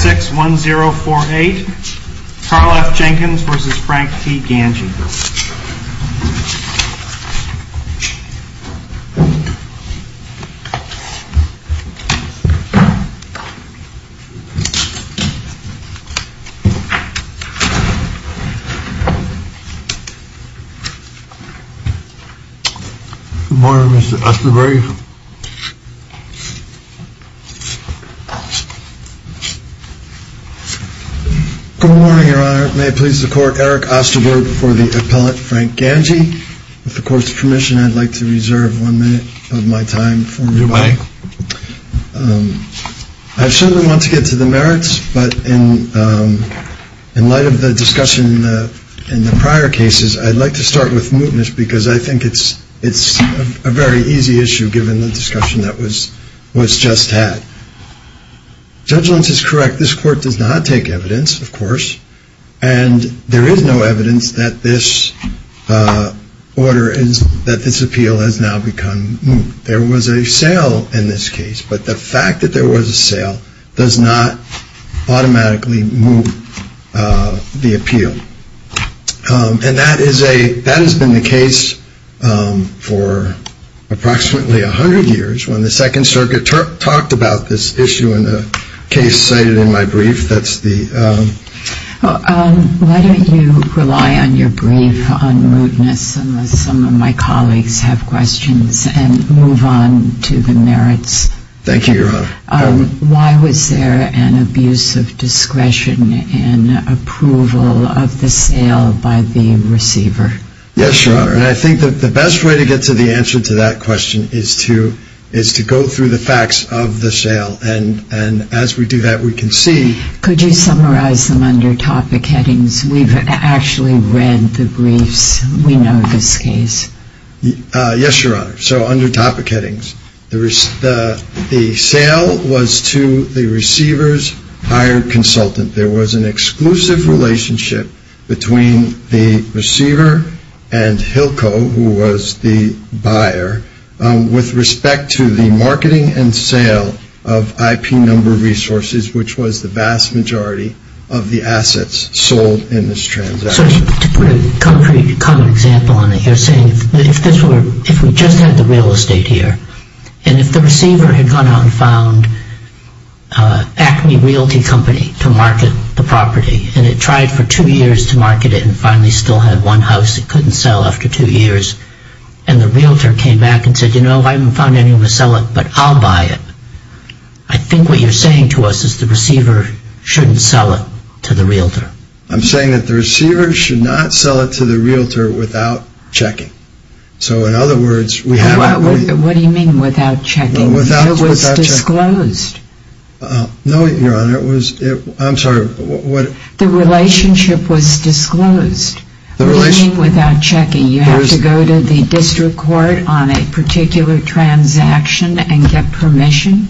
61048, Carl F. Jenkins v. Frank T. Gangi Good morning, Mr. Osterberg Good morning, your honor. May it please the appellate Frank Gangi. With the court's permission, I'd like to reserve one minute of my time for rebuttal. I certainly want to get to the merits, but in light of the discussion in the prior cases, I'd like to start with mootness, because I think it's a very easy issue given the discussion that was just had. Judgment is correct. This court does not take evidence, of course, and there is no evidence that this appeal has now become moot. There was a sale in this case, but the fact that there was a sale does not automatically moot the appeal. And that has been the case for approximately 100 years, when the Second Circuit talked about this issue in a case cited in my brief. Why don't you rely on your brief on mootness, unless some of my colleagues have questions, and move on to the merits. Thank you, your honor. Why was there an abuse of discretion in approval of the sale by the receiver? Yes, your honor. I think the best way to get to the answer to that question is to go through the facts of the sale. And as we do that, we can see... Could you summarize them under topic headings? We've actually read the briefs. We know this case. Yes, your honor. So under topic headings, the sale was to the receiver's hired consultant. There was an exclusive relationship between the receiver and Hilco, who was the buyer, with respect to the sale of IP number resources, which was the vast majority of the assets sold in this transaction. So to put a concrete example on it, you're saying if we just had the real estate here, and if the receiver had gone out and found Acme Realty Company to market the property, and it tried for two years to market it and finally still had one house it couldn't sell after two years, and the realtor came back and said, you know, I haven't found anyone to sell it, but I'll buy it. I think what you're saying to us is the receiver shouldn't sell it to the realtor. I'm saying that the receiver should not sell it to the realtor without checking. So in other words... What do you mean without checking? It was disclosed. No, your honor. I'm sorry. The relationship was disclosed. What do you mean without checking? You have to go to the district court on a particular transaction and get permission?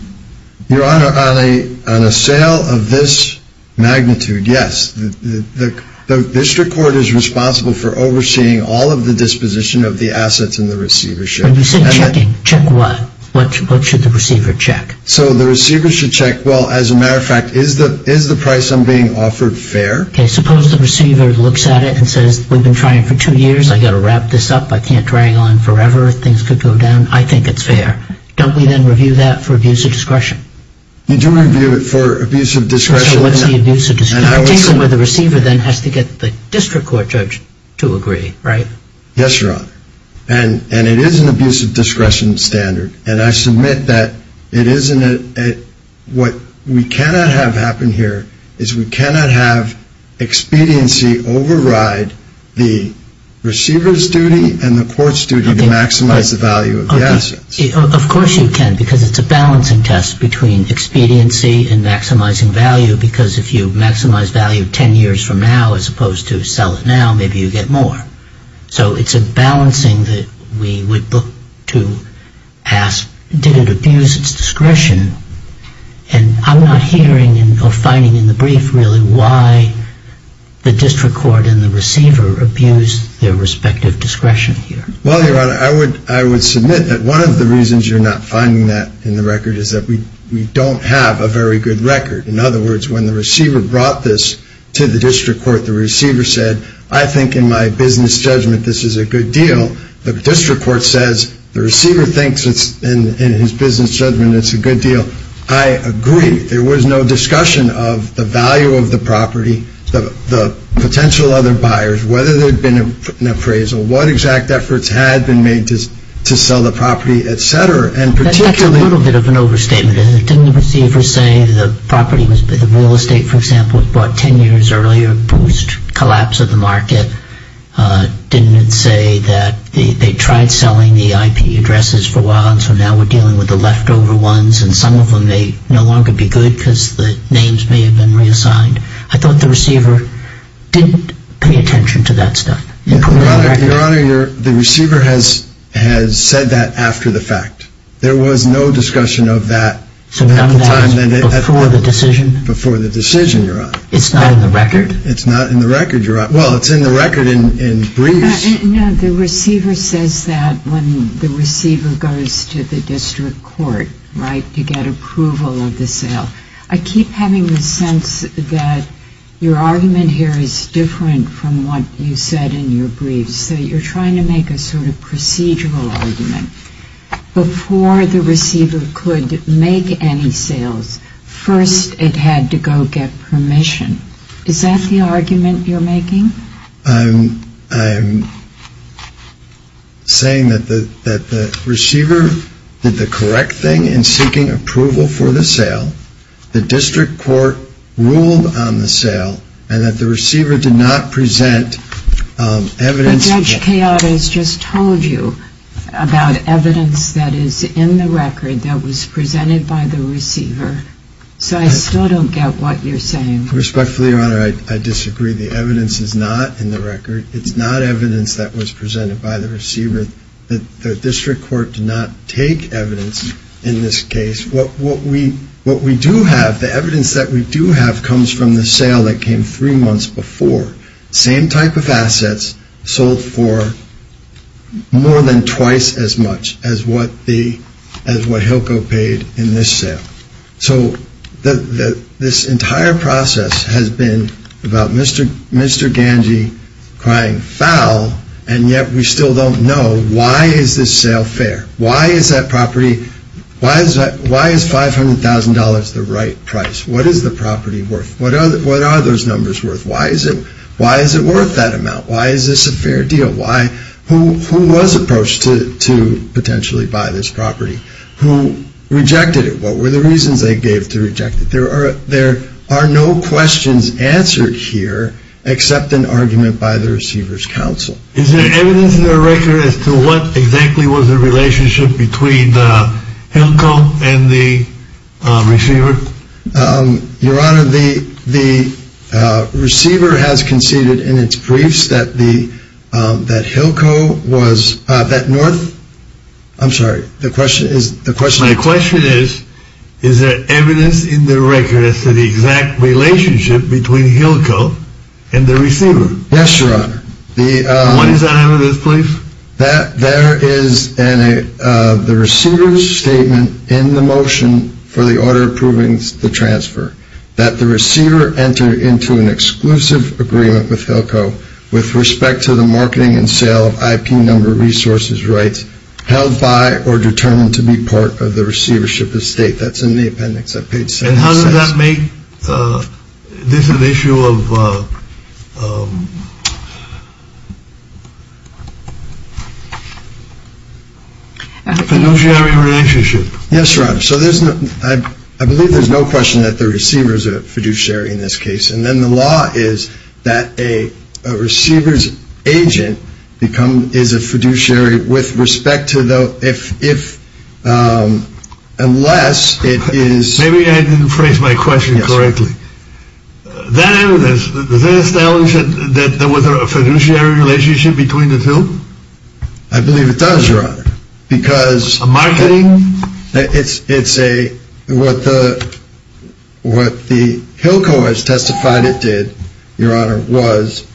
Your honor, on a sale of this magnitude, yes. The district court is responsible for overseeing all of the disposition of the assets and the receivership. When you say checking, check what? What should the receiver check? So the receiver should check, well, as a matter of fact, is the price I'm being offered fair? Okay, suppose the receiver looks at it and says, we've been trying for two years, I've got to wrap this up, I can't drag on forever, things could go down, I think it's fair. Don't we then review that for abuse of discretion? You do review it for abuse of discretion. So what's the abuse of discretion? The receiver then has to get the district court judge to agree, right? Yes, your honor. And it is an abuse of discretion standard. And I submit that it isn't a... What we cannot have happen here is we cannot have expediency override the receiver's duty and the court's duty to maximize the value of the assets. Of course you can, because it's a balancing test between expediency and maximizing value, because if you maximize value ten years from now as opposed to sell it now, maybe you get more. So it's a balancing that we would look to ask, did it abuse its discretion? And I'm not hearing or finding in the brief really why the district court and the receiver abused their respective discretion here. Well, your honor, I would submit that one of the reasons you're not finding that in the record is that we don't have a very good record. In other words, when the receiver brought this to the district court, the receiver said, I think in my business judgment this is a good deal. The district court says the receiver thinks in his business judgment it's a good deal. I agree. There was no discussion of the value of the property, the potential other buyers, whether there had been an appraisal, what exact efforts had been made to sell the property, et cetera. That's a little bit of an overstatement, isn't it? Didn't the receiver say the property was a bit of real estate, for example, bought ten years earlier, boost, collapse of the market? Didn't it say that they tried selling the IP addresses for a while, and so now we're dealing with the leftover ones, and some of them may no longer be good because the names may have been reassigned? I thought the receiver didn't pay attention to that stuff. Your Honor, the receiver has said that after the fact. There was no discussion of that at the time. Before the decision? Before the decision, Your Honor. It's not in the record? It's not in the record, Your Honor. Well, it's in the record in briefs. No, the receiver says that when the receiver goes to the district court, right, to get approval of the sale. I keep having the sense that your argument here is different from what you said in your briefs, that you're trying to make a sort of procedural argument. Before the receiver could make any sales, first it had to go get permission. Is that the argument you're making? I'm saying that the receiver did the correct thing in seeking approval for the sale, the district court ruled on the sale, and that the receiver did not present evidence. But Judge Chiodo has just told you about evidence that is in the record that was presented by the receiver, so I still don't get what you're saying. Respectfully, Your Honor, I disagree. The evidence is not in the record. It's not evidence that was presented by the receiver. The district court did not take evidence in this case. What we do have, the evidence that we do have, comes from the sale that came three months before. Same type of assets sold for more than twice as much as what Hilco paid in this sale. So this entire process has been about Mr. Ganji crying foul, and yet we still don't know why is this sale fair? Why is that property, why is $500,000 the right price? What is the property worth? What are those numbers worth? Why is it worth that amount? Why is this a fair deal? Who was approached to potentially buy this property? Who rejected it? What were the reasons they gave to reject it? There are no questions answered here except an argument by the receiver's counsel. Is there evidence in the record as to what exactly was the relationship between Hilco and the receiver? Your Honor, the receiver has conceded in its briefs that Hilco was, that North... I'm sorry, the question is... My question is, is there evidence in the record as to the exact relationship between Hilco and the receiver? Yes, Your Honor. When is that evidence, please? There is the receiver's statement in the motion for the order approving the transfer that the receiver entered into an exclusive agreement with Hilco with respect to the marketing and sale of IP number resources rights held by or determined to be part of the receivership estate. That's in the appendix on page 76. And how does that make this an issue of fiduciary relationship? Yes, Your Honor. So I believe there's no question that the receiver is a fiduciary in this case. And then the law is that a receiver's agent is a fiduciary with respect to the... Unless it is... Maybe I didn't phrase my question correctly. That evidence, does it establish that there was a fiduciary relationship between the two? I believe it does, Your Honor. Because... A marketing? It's a... What the Hilco has testified it did, Your Honor, was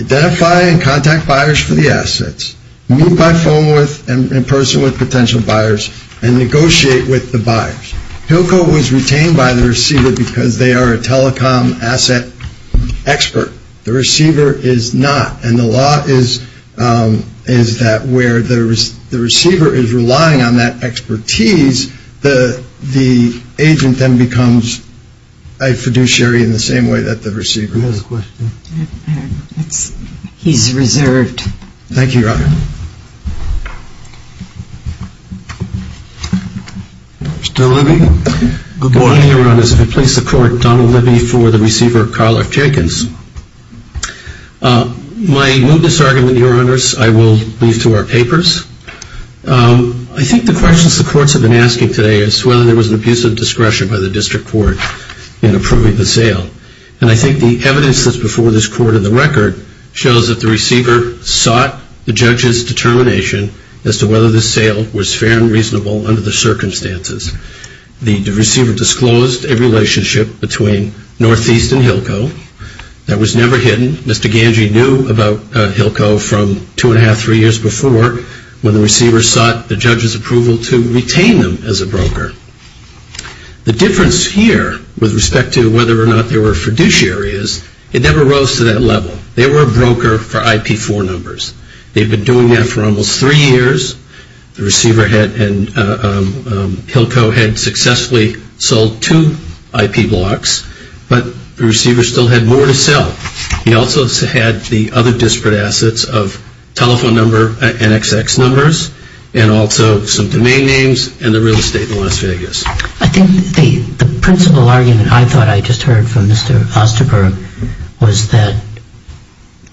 identify and contact buyers for the assets, meet by phone with and in person with potential buyers, and negotiate with the buyers. Hilco was retained by the receiver because they are a telecom asset expert. The receiver is not. And the law is that where the receiver is relying on that expertise, the agent then becomes a fiduciary in the same way that the receiver is. Who has a question? He's reserved. Thank you, Your Honor. Mr. Libby? Good morning, Your Honors. If it please the Court, Donald Libby for the receiver, Karl F. Jenkins. My mootness argument, Your Honors, I will leave to our papers. I think the questions the courts have been asking today is whether there was an abuse of discretion by the district court in approving the sale. And I think the evidence that's before this Court in the record shows that the receiver sought the judge's determination as to whether the sale was fair and reasonable under the circumstances. The receiver disclosed a relationship between Northeast and Hilco that was never hidden. Mr. Ganji knew about Hilco from two and a half, three years before when the receiver sought the judge's approval to retain them as a broker. The difference here with respect to whether or not they were fiduciaries, it never rose to that level. They were a broker for IP4 numbers. They've been doing that for almost three years. The receiver and Hilco had successfully sold two IP blocks, but the receiver still had more to sell. He also had the other disparate assets of telephone number and XX numbers and also some domain names and the real estate in Las Vegas. I think the principal argument I thought I just heard from Mr. Osterberg was that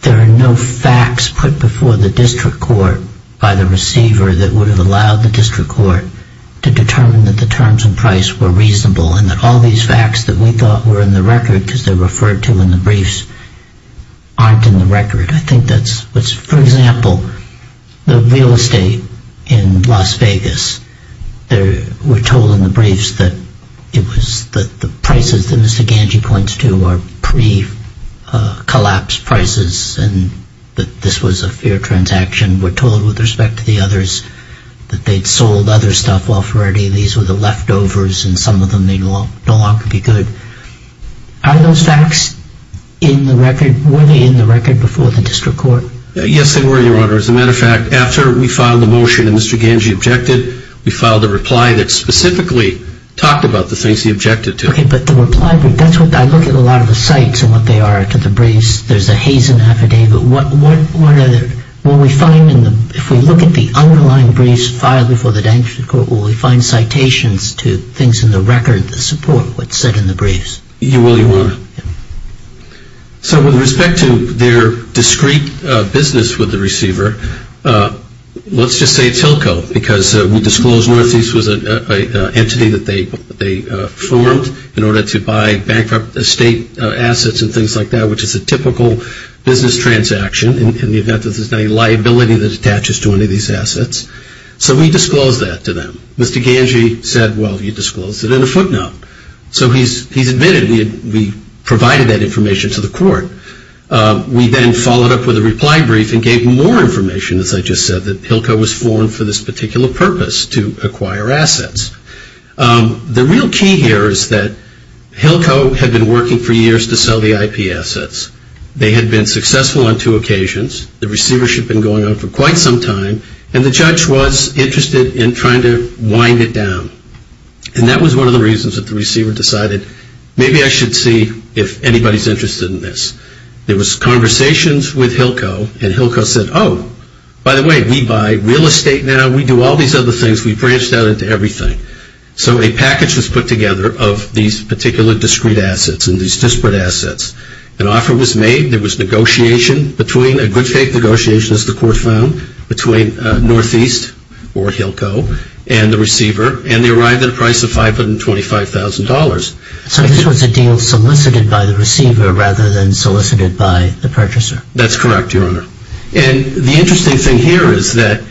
there are no facts put before the district court by the receiver that would have allowed the district court to determine that the terms and price were reasonable and that all these facts that we thought were in the record because they're referred to in the briefs aren't in the record. For example, the real estate in Las Vegas, we're told in the briefs that the prices that Mr. Ganji points to are pre-collapse prices and that this was a fair transaction. We're told with respect to the others that they'd sold other stuff off already. These were the leftovers and some of them may no longer be good. Are those facts in the record? Were they in the record before the district court? Yes, they were, Your Honor. As a matter of fact, after we filed the motion and Mr. Ganji objected, we filed a reply that specifically talked about the things he objected to. Okay, but the reply, I look at a lot of the sites and what they are to the briefs. There's a Hazen affidavit. If we look at the underlying briefs filed before the district court, will we find citations to things in the record to support what's said in the briefs? You will, Your Honor. So with respect to their discrete business with the receiver, let's just say it's Hilco because we disclosed Northeast was an entity that they formed in order to buy bankrupt estate assets and things like that, which is a typical business transaction in the event that there's any liability that attaches to any of these assets. So we disclosed that to them. Mr. Ganji said, well, you disclosed it in a footnote. So he's admitted we provided that information to the court. We then followed up with a reply brief and gave more information, as I just said, that Hilco was formed for this particular purpose, to acquire assets. The real key here is that Hilco had been working for years to sell the IP assets. They had been successful on two occasions. The receivership had been going on for quite some time and the judge was interested in trying to wind it down. And that was one of the reasons that the receiver decided, maybe I should see if anybody's interested in this. There was conversations with Hilco and Hilco said, oh, by the way, we buy real estate now. We do all these other things. We branched out into everything. So a package was put together of these particular discrete assets and these disparate assets. An offer was made. There was negotiation between, a good fake negotiation as the court found, between Northeast or Hilco and the receiver, and they arrived at a price of $525,000. So this was a deal solicited by the receiver rather than solicited by the purchaser. That's correct, Your Honor. And the interesting thing here is that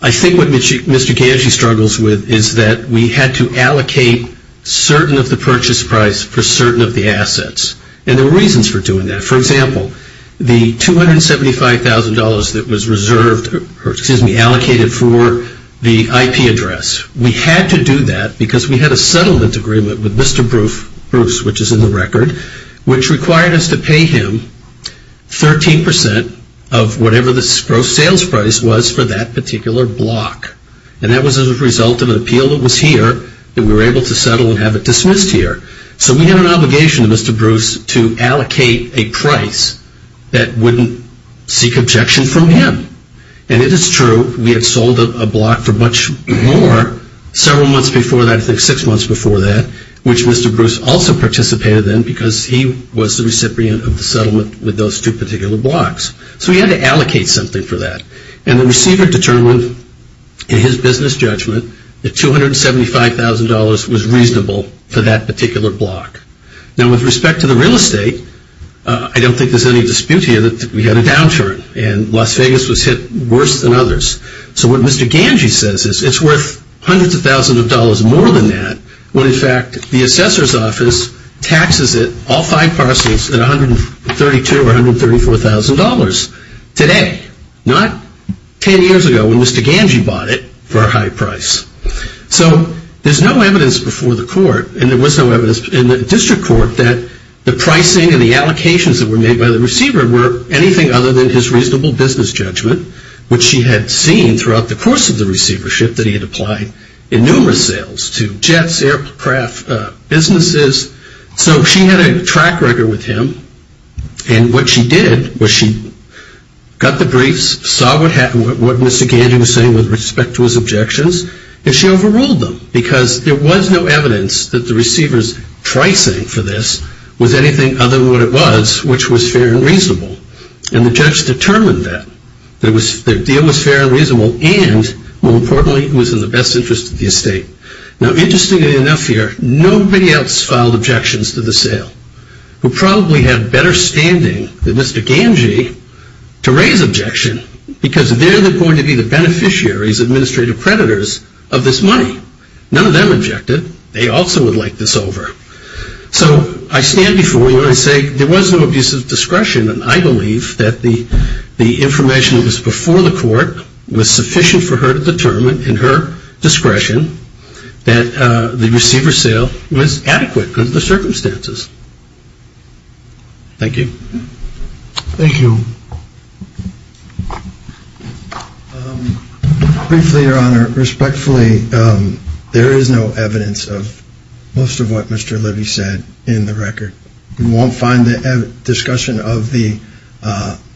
I think what Mr. Ganji struggles with is that we had to allocate certain of the purchase price for certain of the assets. And there were reasons for doing that. For example, the $275,000 that was reserved, or excuse me, allocated for the IP address, we had to do that because we had a settlement agreement with Mr. Bruce, which is in the record, which required us to pay him 13% of whatever the gross sales price was for that particular block. And that was a result of an appeal that was here that we were able to settle and have it dismissed here. So we had an obligation to Mr. Bruce to allocate a price that wouldn't seek objection from him. And it is true, we had sold a block for much more several months before that, I think six months before that, which Mr. Bruce also participated in because he was the recipient of the settlement with those two particular blocks. So we had to allocate something for that. And the receiver determined in his business judgment that $275,000 was reasonable for that particular block. Now with respect to the real estate, I don't think there's any dispute here that we had a downturn and Las Vegas was hit worse than others. So what Mr. Ganji says is it's worth hundreds of thousands of dollars more than that when in fact the assessor's office taxes it, all five parcels, at $132,000 or $134,000. Today, not ten years ago when Mr. Ganji bought it for a high price. So there's no evidence before the court, and there was no evidence in the district court, that the pricing and the allocations that were made by the receiver were anything other than his reasonable business judgment, which he had seen throughout the course of the receivership that he had applied in numerous sales to jets, aircraft, businesses. So she had a track record with him, and what she did was she got the briefs, saw what Mr. Ganji was saying with respect to his objections, and she overruled them because there was no evidence that the receiver's pricing for this was anything other than what it was, which was fair and reasonable. And the judge determined that. The deal was fair and reasonable, and more importantly, it was in the best interest of the estate. Now, interestingly enough here, nobody else filed objections to the sale who probably had better standing than Mr. Ganji to raise objection because they're going to be the beneficiaries, administrative predators of this money. None of them objected. They also would like this over. So I stand before you and I say there was no abuse of discretion, and I believe that the information that was before the court was sufficient for her to determine in her discretion that the receiver's sale was adequate under the circumstances. Thank you. Briefly, Your Honor, respectfully, there is no evidence of most of what Mr. Libby said in the record. You won't find the discussion of the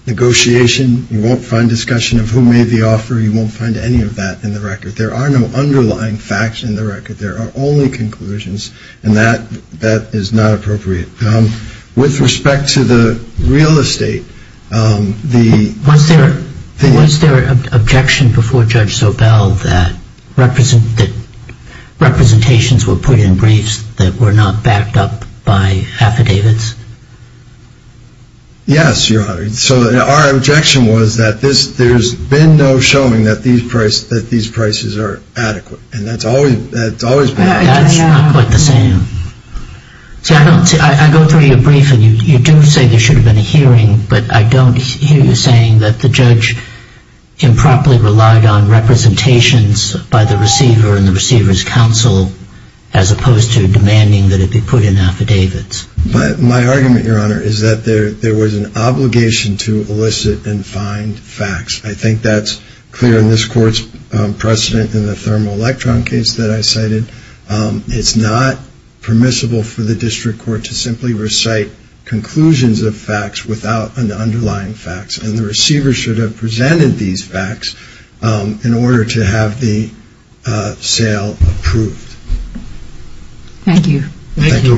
negotiation. You won't find discussion of who made the offer. You won't find any of that in the record. There are no underlying facts in the record. There are only conclusions, and that is not appropriate. With respect to the real estate, the — Was there an objection before Judge Sobel that representations were put in briefs that were not backed up by affidavits? Yes, Your Honor. So our objection was that there's been no showing that these prices are adequate, and that's always been the case. That's not quite the same. See, I go through your brief, and you do say there should have been a hearing, but I don't hear you saying that the judge improperly relied on representations by the receiver and the receiver's counsel as opposed to demanding that it be put in affidavits. My argument, Your Honor, is that there was an obligation to elicit and find facts. I think that's clear in this Court's precedent in the thermoelectron case that I cited. It's not permissible for the district court to simply recite conclusions of facts without an underlying fact, and the receiver should have presented these facts in order to have the sale approved. Thank you. Thank you.